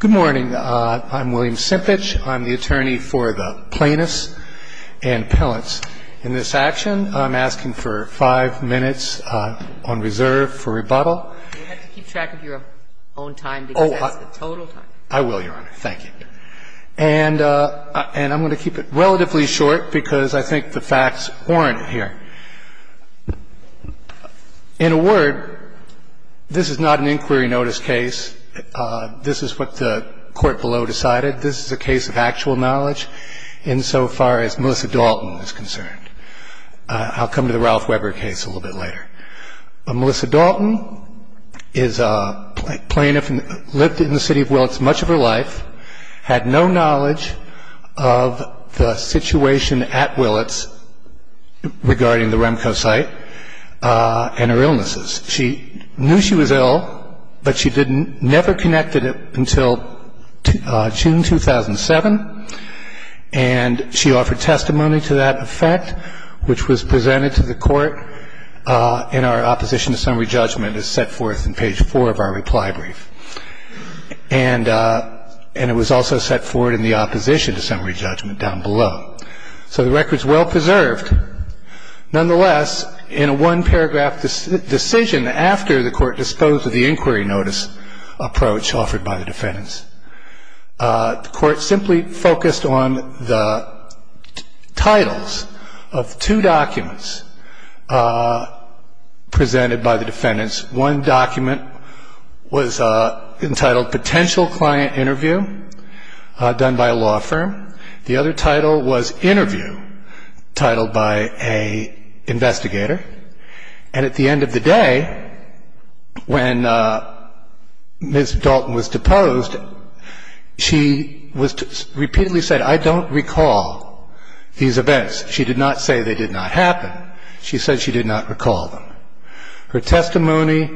Good morning. I'm William Simpich. I'm the attorney for the Plaintiffs and Appellants. In this action, I'm asking for five minutes on reserve for rebuttal. You have to keep track of your own time because that's the total time. I will, Your Honor. Thank you. And I'm going to keep it relatively short because I think the facts warrant it here. In a word, this is not an inquiry notice case. This is what the court below decided. This is a case of actual knowledge insofar as Melissa Dalton is concerned. I'll come to the Ralph Weber case a little bit later. Melissa Dalton is a plaintiff and lived in the city of Willets much of her life, had no knowledge of the situation at Willets regarding the Remco site and her illnesses. She knew she was ill, but she never connected it until June 2007, and she offered testimony to that effect, which was presented to the court in our opposition to summary judgment as set forth in page four of our reply brief. And it was also set forward in the opposition to summary judgment down below. So the record is well preserved. Nonetheless, in a one-paragraph decision after the court disposed of the inquiry notice approach offered by the defendants, the court simply focused on the titles of two documents presented by the defendants. One document was entitled Potential Client Interview, done by a law firm. The other title was Interview, titled by an investigator. And at the end of the day, when Ms. Dalton was deposed, she repeatedly said, I don't recall these events. She did not say they did not happen. She said she did not recall them. Her testimony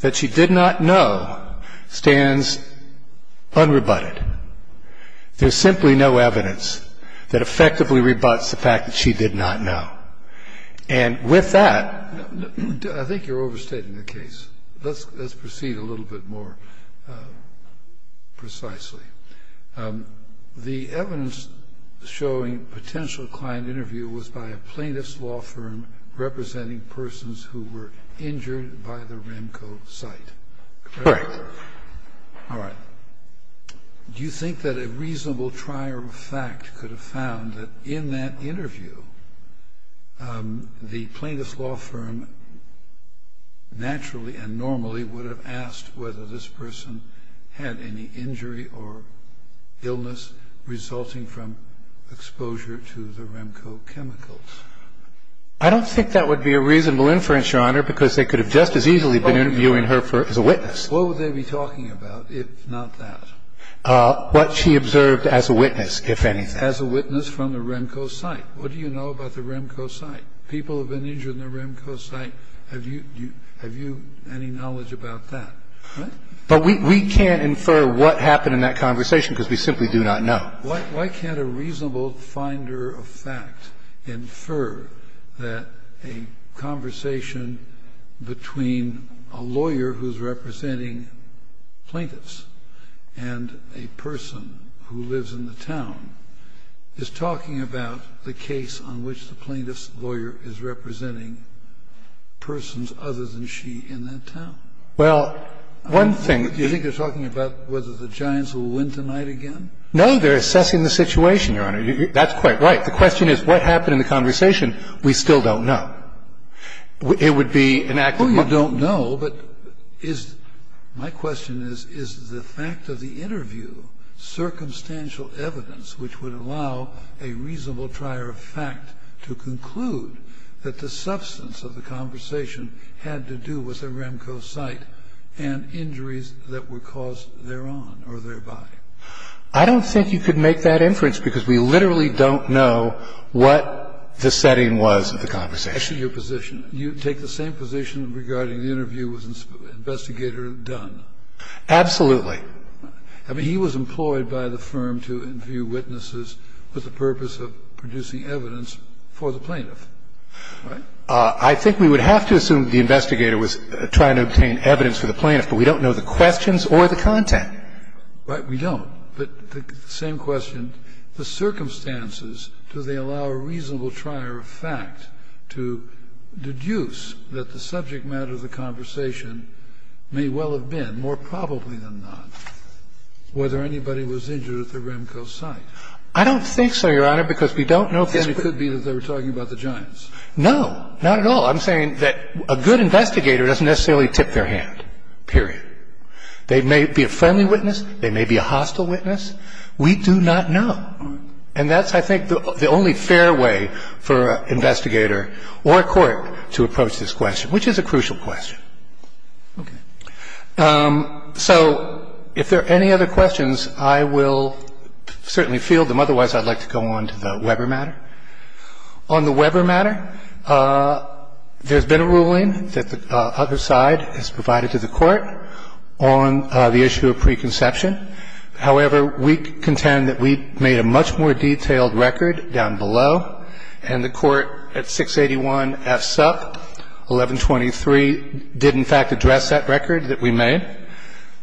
that she did not know stands unrebutted. There's simply no evidence that effectively rebuts the fact that she did not know. And with that, I think you're overstating the case. Let's proceed a little bit more precisely. The evidence showing Potential Client Interview was by a plaintiff's law firm representing persons who were injured by the Remco site. Correct. All right. Do you think that a reasonable trier of fact could have found that in that interview, the plaintiff's law firm naturally and normally would have asked whether this person had any injury or illness resulting from exposure to the Remco chemicals? I don't think that would be a reasonable inference, Your Honor, because they could have just as easily been interviewing her as a witness. What would they be talking about, if not that? What she observed as a witness, if anything. As a witness from the Remco site. What do you know about the Remco site? People have been injured in the Remco site. Have you any knowledge about that? But we can't infer what happened in that conversation because we simply do not know. Now, why can't a reasonable finder of fact infer that a conversation between a lawyer who's representing plaintiffs and a person who lives in the town is talking about the case on which the plaintiff's lawyer is representing persons other than she in that town? Well, one thing. Do you think they're talking about whether the Giants will win tonight again? No, they're assessing the situation, Your Honor. That's quite right. The question is what happened in the conversation. We still don't know. It would be an act of mind. Well, you don't know, but my question is, is the fact of the interview circumstantial evidence which would allow a reasonable trier of fact to conclude that the substance of the conversation had to do with the Remco site and injuries that were caused thereon or thereby? I don't think you could make that inference because we literally don't know what the setting was of the conversation. That's your position. You take the same position regarding the interview with Investigator Dunn. Absolutely. I mean, he was employed by the firm to interview witnesses with the purpose of producing evidence for the plaintiff. Right? I think we would have to assume the investigator was trying to obtain evidence for the plaintiff, but we don't know the questions or the content. Right. We don't. But the same question, the circumstances, do they allow a reasonable trier of fact to deduce that the subject matter of the conversation may well have been, more probably than not, whether anybody was injured at the Remco site? I don't think so, Your Honor, because we don't know this. Then it could be that they were talking about the Giants. No, not at all. I'm saying that a good investigator doesn't necessarily tip their hand, period. They may be a friendly witness. They may be a hostile witness. We do not know. And that's, I think, the only fair way for an investigator or a court to approach this question, which is a crucial question. Okay. So if there are any other questions, I will certainly field them. Otherwise, I'd like to go on to the Weber matter. On the Weber matter, there's been a ruling that the other side has provided to the Court on the issue of preconception. However, we contend that we made a much more detailed record down below, and the Court at 681 F. Supp. 1123 did, in fact, address that record that we made.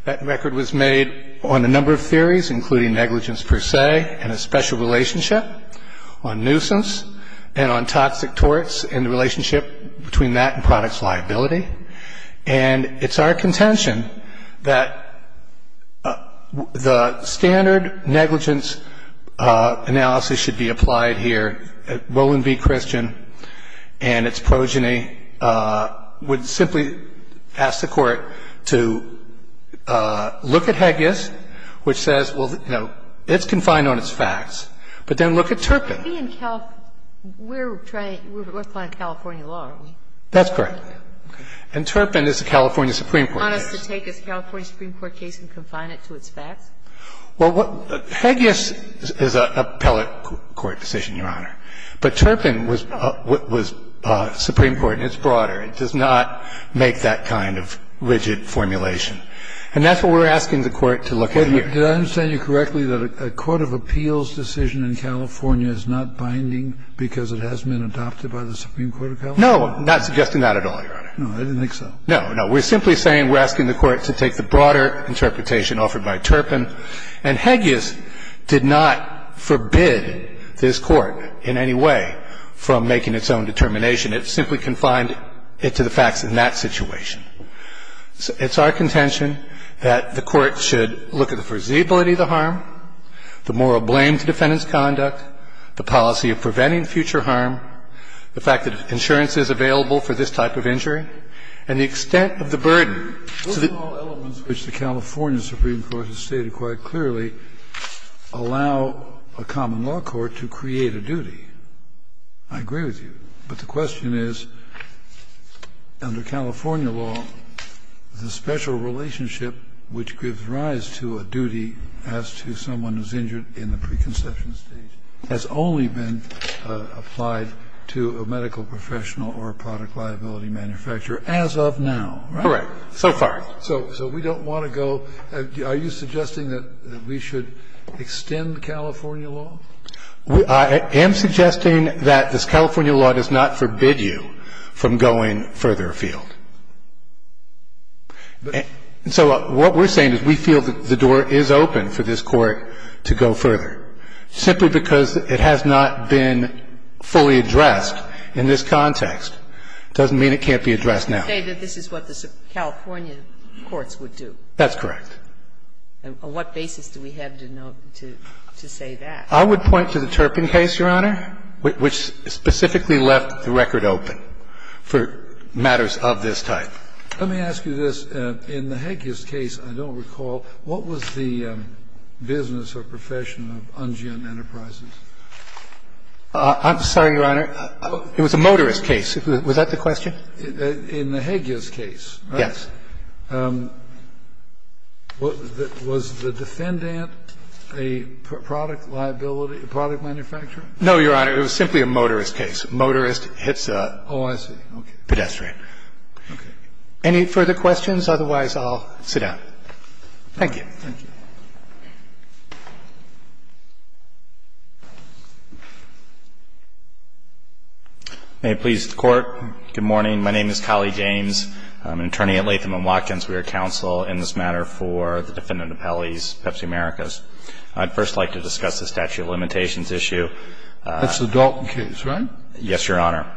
That record was made on a number of theories, including negligence per se and a special relationship on nuisance and on toxic torts and the relationship between that and product's liability. And it's our contention that the standard negligence analysis should be applied here. Rowland v. Christian and its progeny would simply ask the Court to look at Heges, which says, well, you know, it's confined on its facts, but then look at Turpin. We're trying to apply California law, aren't we? That's correct. And Turpin is a California Supreme Court case. Do you want us to take a California Supreme Court case and confine it to its facts? Well, what Heges is an appellate court decision, Your Honor. But Turpin was a Supreme Court, and it's broader. It does not make that kind of rigid formulation. And that's what we're asking the Court to look at here. Wait. Did I understand you correctly that a court of appeals decision in California is not binding because it has been adopted by the Supreme Court of California? No, I'm not suggesting that at all, Your Honor. No, I didn't think so. No, no. We're simply saying we're asking the Court to take the broader interpretation offered by Turpin. And Heges did not forbid this Court in any way from making its own determination. It simply confined it to the facts in that situation. So it's our contention that the Court should look at the foreseeability of the harm, the moral blame to defendant's conduct, the policy of preventing future harm, the fact that insurance is available for this type of injury, and the extent of the burden. Scalia. Those are all elements which the California Supreme Court has stated quite clearly allow a common law court to create a duty. I agree with you. But the question is, under California law, the special relationship which gives rise to a duty as to someone who is injured in the preconception stage has only been applied to a medical professional or a product liability manufacturer as of now, right? Correct. So far. So we don't want to go – are you suggesting that we should extend California law? I am suggesting that this California law does not forbid you from going further afield. So what we're saying is we feel that the door is open for this Court to go further, simply because it has not been fully addressed in this context. It doesn't mean it can't be addressed now. You say that this is what the California courts would do. That's correct. And on what basis do we have to know to say that? I would point to the Turpin case, Your Honor, which specifically left the record open for matters of this type. Let me ask you this. In the Heges case, I don't recall, what was the business or profession of Ungeon Enterprises? I'm sorry, Your Honor. It was a motorist case. In the Heges case, right? Yes. Was the defendant a product liability, a product manufacturer? No, Your Honor. It was simply a motorist case. Motorist hits a pedestrian. Oh, I see. Okay. Any further questions? Otherwise, I'll sit down. Thank you. Thank you. May it please the Court. Good morning. My name is Colley James. I'm an attorney at Latham & Watkins. We are counsel in this matter for the defendant Appellee's Pepsi Americas. I'd first like to discuss the statute of limitations issue. That's the Dalton case, right? Yes, Your Honor.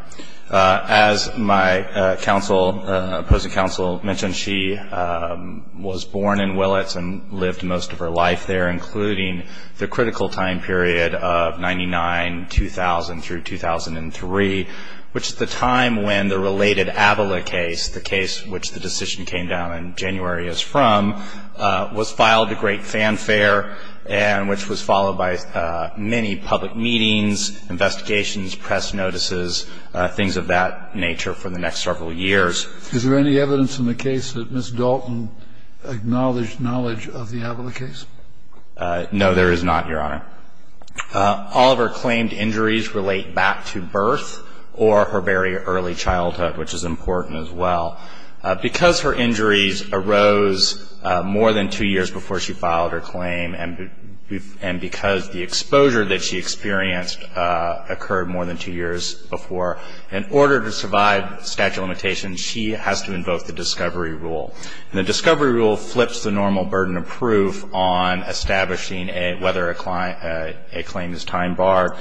As my counsel, opposing counsel mentioned, she was born in Willets and lived most of her life there, including the critical time period of 99-2000 through 2003, which is the time when the related Avila case, the case which the decision came down in January as from, was filed to great fanfare and which was followed by many public meetings, investigations, press notices, things of that nature for the next several years. Is there any evidence in the case that Ms. Dalton acknowledged knowledge of the Avila case? No, there is not, Your Honor. All of her claimed injuries relate back to birth or her very early childhood, which is important as well. Because her injuries arose more than two years before she filed her claim and because the exposure that she experienced occurred more than two years before, in order to survive statute of limitations, she has to invoke the discovery rule. And the discovery rule flips the normal burden of proof on establishing whether a claim is time barred.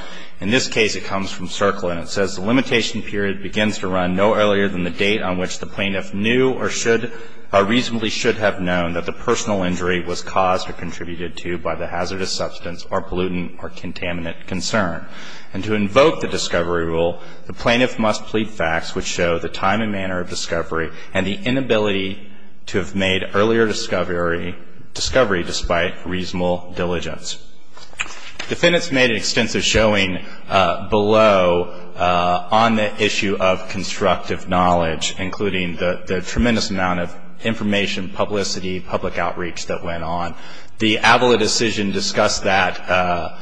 In this case, it comes from Circle and it says, The limitation period begins to run no earlier than the date on which the plaintiff knew or should or reasonably should have known that the personal injury was caused or contributed to by the hazardous substance or pollutant or contaminant concern. And to invoke the discovery rule, the plaintiff must plead facts which show the time and manner of discovery and the inability to have made earlier discovery despite reasonable diligence. Defendants made an extensive showing below on the issue of constructive knowledge, including the tremendous amount of information, publicity, public outreach that went on. The Avila decision discussed that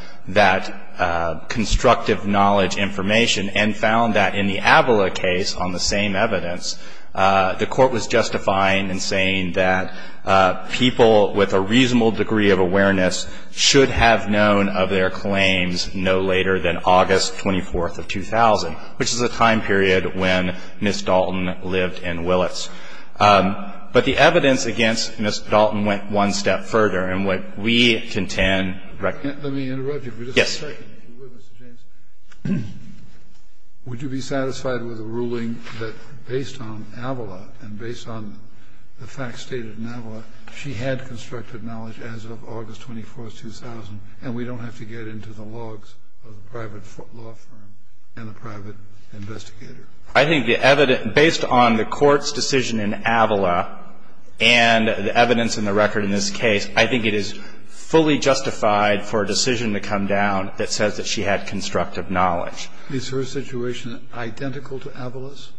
constructive knowledge information and found that in the Avila case on the same evidence, the Court was justifying and saying that people with a reasonable degree of awareness should have known of their claims no later than August 24th of 2000, which is a time period when Ms. Dalton lived in Willetts. But the evidence against Ms. Dalton went one step further. And what we contend recognizes. Kennedy. Yes. Would you be satisfied with the ruling that based on Avila and based on the facts stated in Avila, she had constructive knowledge as of August 24th, 2000, and we don't have to get into the logs of the private law firm and the private investigator? I think the evidence – based on the Court's decision in Avila and the evidence in the record in this case, I think it is fully justified for a decision to come down that says that she had constructive knowledge. Is her situation identical to Avila's?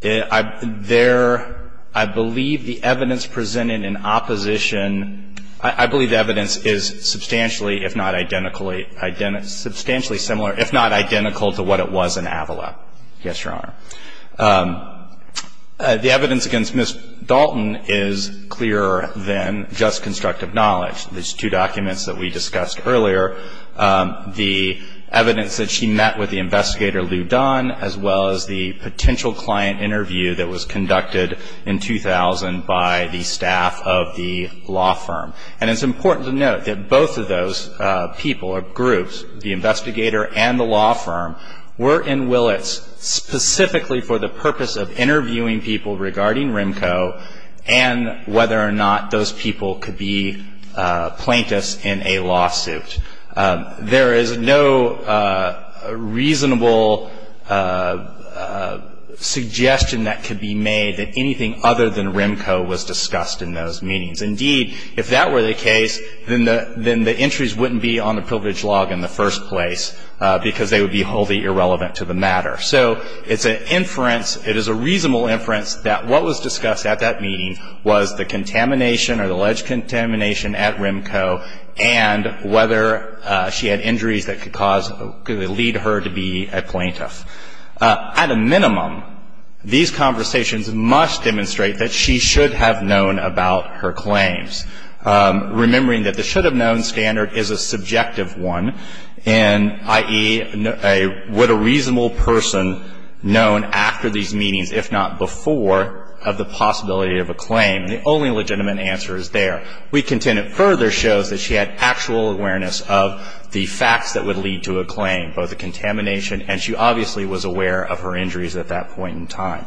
There – I believe the evidence presented in opposition – I believe the evidence is substantially, if not identically – substantially similar, if not identical, to what it was in Avila. Yes, Your Honor. The evidence against Ms. Dalton is clearer than just constructive knowledge. These two documents that we discussed earlier, the evidence that she met with the investigator, Lou Dunn, as well as the potential client interview that was conducted in 2000 by the staff of the law firm. And it's important to note that both of those people or groups, the investigator and the law firm, were in Willits specifically for the purpose of interviewing people regarding RIMCO and whether or not those people could be plaintiffs in a lawsuit. There is no reasonable suggestion that could be made that anything other than RIMCO was discussed in those meetings. Indeed, if that were the case, then the – then the entries wouldn't be on the coverage log in the first place because they would be wholly irrelevant to the matter. So it's an inference – it is a reasonable inference that what was discussed at that meeting was the contamination or the alleged contamination at RIMCO and whether she had injuries that could cause – could lead her to be a plaintiff. At a minimum, these conversations must demonstrate that she should have known about her claims. Remembering that the should-have-known standard is a subjective one, and i.e., would a reasonable person known after these meetings, if not before, have the possibility of a claim? The only legitimate answer is there. We contend it further shows that she had actual awareness of the facts that would lead to a claim, both the contamination and she obviously was aware of her injuries at that point in time.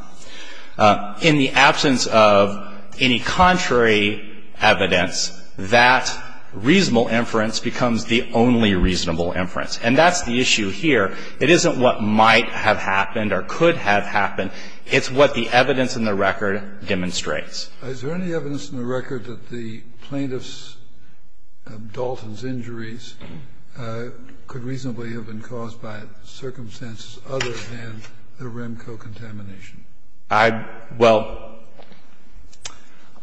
In the absence of any contrary evidence, that reasonable inference becomes the only reasonable inference. And that's the issue here. It isn't what might have happened or could have happened. It's what the evidence in the record demonstrates. Kennedy. Is there any evidence in the record that the plaintiff's – Dalton's injuries could reasonably have been caused by circumstances other than the RIMCO contamination? Well,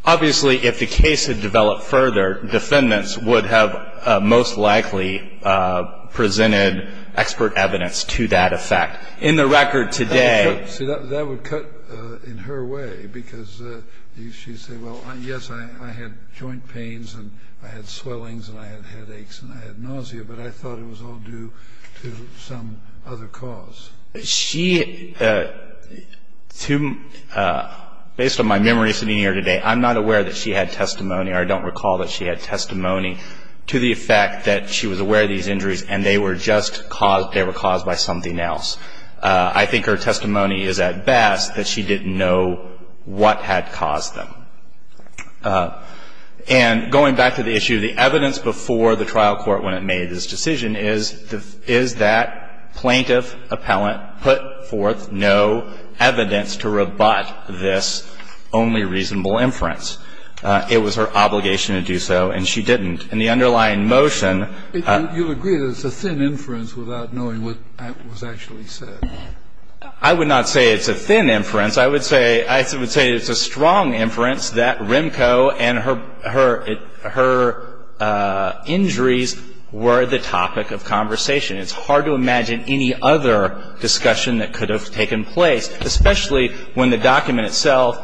obviously, if the case had developed further, defendants would have most likely presented expert evidence to that effect. In the record today – See, that would cut in her way, because she'd say, well, yes, I had joint pains and I had swellings and I had headaches and I had nausea, but I thought it was all due to some other cause. She – based on my memory sitting here today, I'm not aware that she had testimony or I don't recall that she had testimony to the effect that she was aware of these injuries and they were just caused – they were caused by something else. I think her testimony is at best that she didn't know what had caused them. And going back to the issue, the evidence before the trial court when it made this decision is, is that plaintiff appellant put forth no evidence to rebut this only reasonable inference? It was her obligation to do so, and she didn't. In the underlying motion – You agree that it's a thin inference without knowing what was actually said? I would not say it's a thin inference. I would say – I would say it's a strong inference that RIMCO and her injuries were the topic of conversation. It's hard to imagine any other discussion that could have taken place, especially when the document itself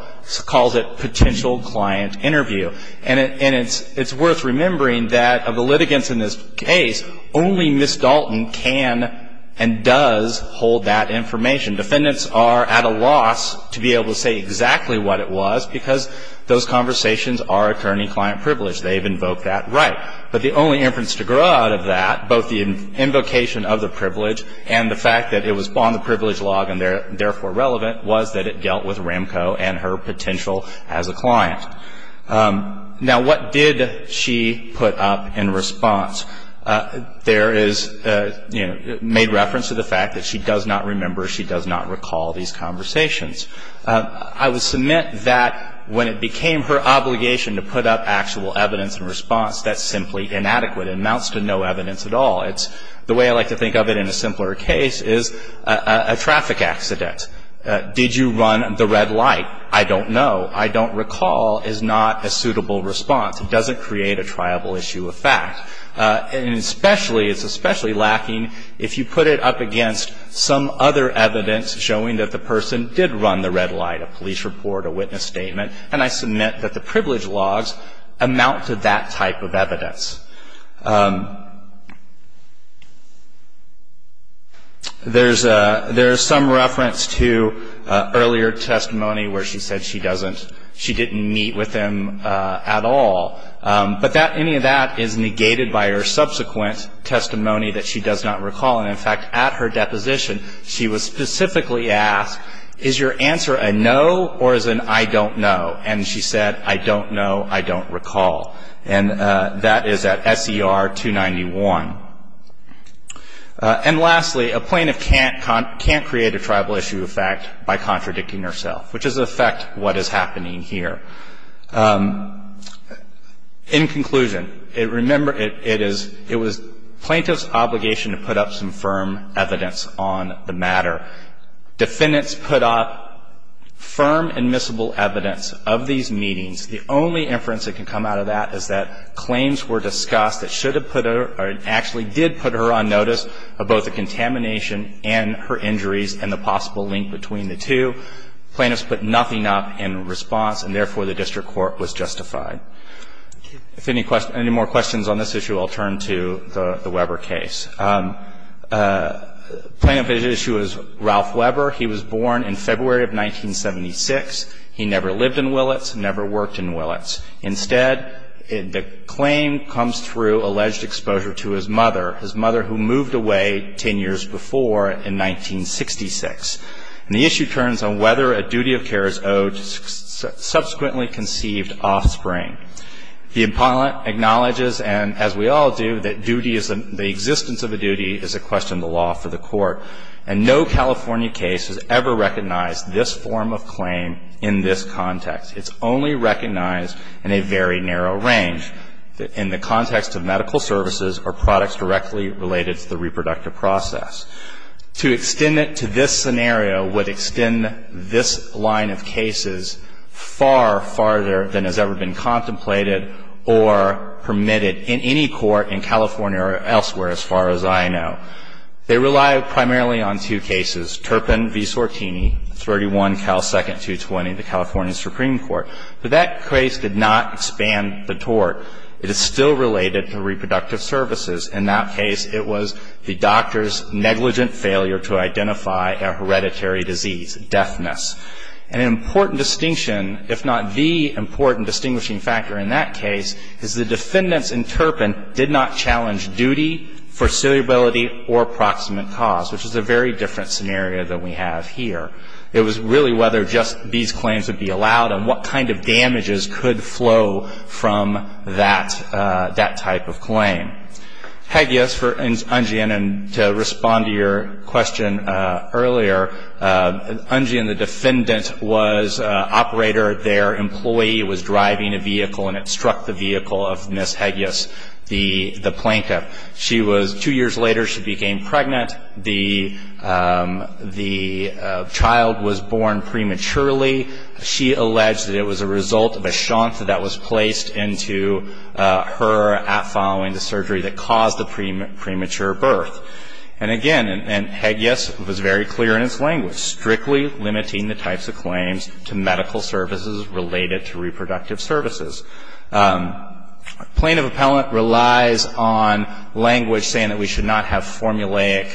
calls it potential client interview. And it's worth remembering that of the litigants in this case, only Ms. Dalton can and does hold that information. Defendants are at a loss to be able to say exactly what it was because those conversations are attorney-client privilege. They've invoked that right. But the only inference to grow out of that, both the invocation of the privilege and the fact that it was on the privilege log and therefore relevant, was that it dealt with RIMCO and her potential as a client. Now, what did she put up in response? There is – made reference to the fact that she does not remember, she does not recall these conversations. I would submit that when it became her obligation to put up actual evidence in response, that's simply inadequate. It amounts to no evidence at all. It's – the way I like to think of it in a simpler case is a traffic accident. Did you run the red light? I don't know. I don't recall is not a suitable response. It doesn't create a triable issue of fact. And especially – it's especially lacking if you put it up against some other evidence showing that the person did run the red light, a police report, a witness statement. And I submit that the privilege logs amount to that type of evidence. There's a – there's some reference to earlier testimony where she said she doesn't – she didn't meet with him at all. But that – any of that is negated by her subsequent testimony that she does not recall. And, in fact, at her deposition, she was specifically asked, is your answer a no or is it an I don't know? And she said, I don't know, I don't recall. And that is at SER 291. And lastly, a plaintiff can't create a triable issue of fact by contradicting herself, which is in effect what is happening here. In conclusion, remember, it is – it was plaintiff's obligation to put up some firm evidence on the matter. Defendants put up firm admissible evidence of these meetings. The only inference that can come out of that is that claims were discussed that should have put her – or actually did put her on notice of both the contamination and her injuries and the possible link between the two. Plaintiffs put nothing up in response and, therefore, the district court was justified. If any questions – any more questions on this issue, I'll turn to the Weber case. Plaintiff's issue is Ralph Weber. He was born in February of 1976. He never lived in Willetts, never worked in Willetts. Instead, the claim comes through alleged exposure to his mother, his mother who moved away 10 years before in 1966. And the issue turns on whether a duty of care is owed to subsequently conceived offspring. The appellant acknowledges, and as we all do, that duty is – the existence of a duty is a question of the law for the court. And no California case has ever recognized this form of claim in this context. It's only recognized in a very narrow range, in the context of medical services or products directly related to the reproductive process. To extend it to this scenario would extend this line of cases far farther than has ever been contemplated or permitted in any court in California or elsewhere, as far as I know. They rely primarily on two cases, Turpin v. Sortini, 31 Cal. 2nd. 220, the California Supreme Court. But that case did not expand the tort. It is still related to reproductive services. In that case, it was the doctor's negligent failure to identify a hereditary disease, deafness. An important distinction, if not the important distinguishing factor in that case, is the defendants in Turpin did not challenge duty, foreseeability, or proximate cause, which is a very different scenario than we have here. It was really whether just these claims would be allowed and what kind of damages could flow from that type of claim. Hegeus for Ungean, and to respond to your question earlier, Ungean, the defendant, was an operator. Their employee was driving a vehicle, and it struck the vehicle of Ms. Hegeus, the plaintiff. Two years later, she became pregnant. The child was born prematurely. She alleged that it was a result of a shunt that was placed into her following the surgery that caused the premature birth. And again, and Hegeus was very clear in his language, strictly limiting the types of claims to medical services related to reproductive services. Plaintiff appellant relies on language saying that we should not have formulaic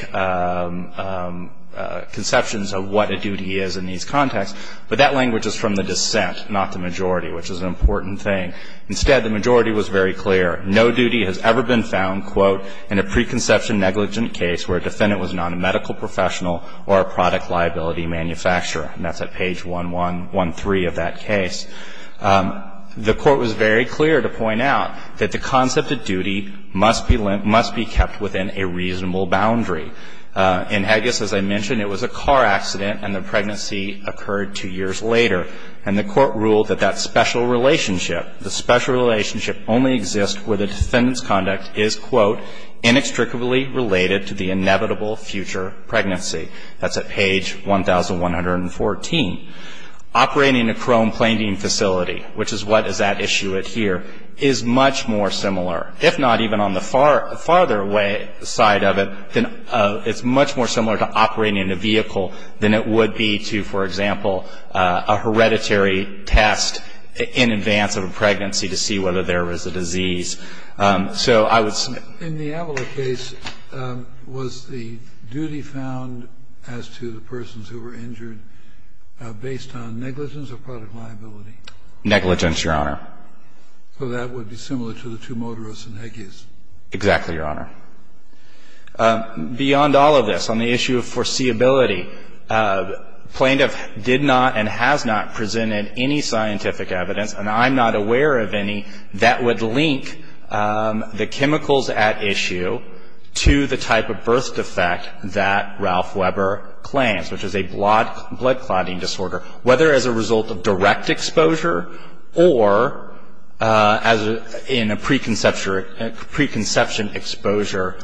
conceptions of what a duty is in these contexts. But that language is from the dissent, not the majority, which is an important thing. Instead, the majority was very clear. No duty has ever been found, quote, in a preconception negligent case where a defendant was not a medical professional or a product liability manufacturer. And that's at page 1113 of that case. The Court was very clear to point out that the concept of duty must be kept within a reasonable boundary. In Hegeus, as I mentioned, it was a car accident and the pregnancy occurred two years later. And the Court ruled that that special relationship, the special relationship only exists where the defendant's conduct is, quote, inextricably related to the inevitable future pregnancy. That's at page 1114. Operating a chrome-plating facility, which is what is at issue here, is much more similar to operating in a vehicle than it would be to, for example, a hereditary test in advance of a pregnancy to see whether there was a disease. So I would say... In the Avelik case, was the duty found as to the persons who were injured based on negligence or product liability? Negligence, Your Honor. So that would be similar to the two motorists in Hegeus? Exactly, Your Honor. Beyond all of this, on the issue of foreseeability, plaintiff did not and has not presented any scientific evidence, and I'm not aware of any, that would link the chemicals at issue to the type of birth defect that Ralph Weber claims, which is a blood clotting disorder, whether as a result of direct exposure or as in a preconception exposure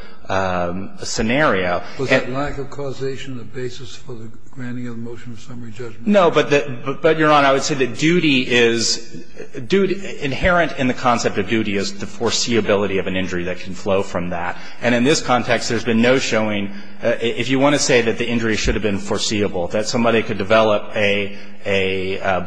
scenario. Was it lack of causation the basis for the granting of the motion of summary judgment? No. But, Your Honor, I would say that duty is, inherent in the concept of duty is the foreseeability of an injury that can flow from that. And in this context, there's been no showing, if you want to say that the injury should have been foreseeable, that somebody could develop a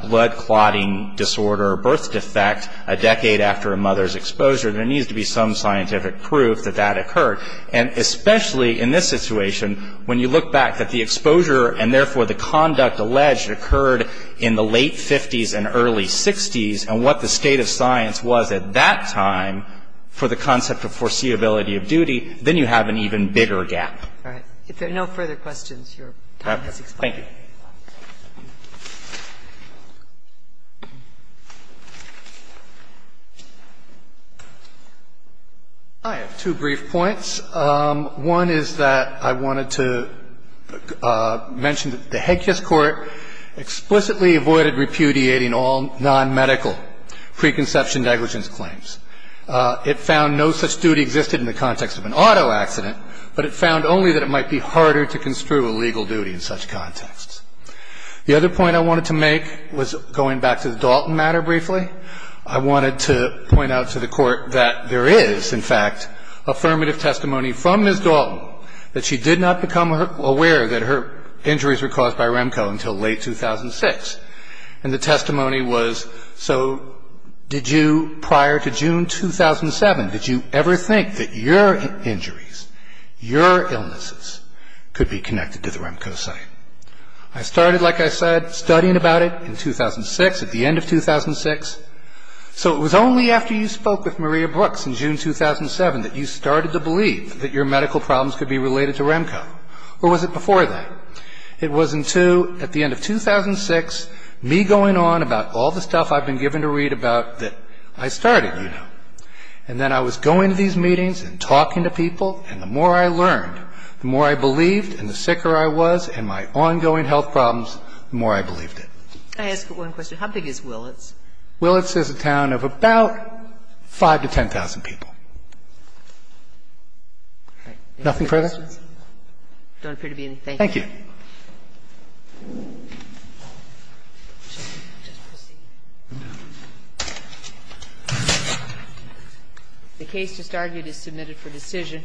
blood clotting disorder or birth defect a decade after a mother's exposure. There needs to be some scientific proof that that occurred. And especially in this situation, when you look back at the exposure and therefore the conduct alleged occurred in the late 50s and early 60s and what the state of science was at that time for the concept of foreseeability of duty, then you have an even bigger gap. All right. If there are no further questions, your time has expired. Thank you. I have two brief points. One is that I wanted to mention that the Hague Court explicitly avoided repudiating all nonmedical preconception negligence claims. It found no such duty existed in the context of an auto accident, but it found only that it might be harder to construe a legal duty in such contexts. The other point I wanted to make was going back to the Dalton matter briefly. I wanted to point out to the Court that there is, in fact, affirmative testimony from Ms. Dalton that she did not become aware that her injuries were caused by Remco until late 2006. And the testimony was, so did you, prior to June 2007, did you ever think that your injuries, your illnesses, could be connected to the Remco site? I started, like I said, studying about it in 2006, at the end of 2006. So it was only after you spoke with Maria Brooks in June 2007 that you started to believe that your medical problems could be related to Remco. Or was it before that? It was in two. At the end of 2006, me going on about all the stuff I've been given to read about that I started, you know, and then I was going to these meetings and talking to people, and the more I learned, the more I believed, and the sicker I was in my ongoing health problems, the more I believed it. Can I ask one question? How big is Willetts? Willetts is a town of about 5,000 to 10,000 people. Nothing further? No questions? There don't appear to be any. Thank you. Thank you. The case just argued is submitted for decision.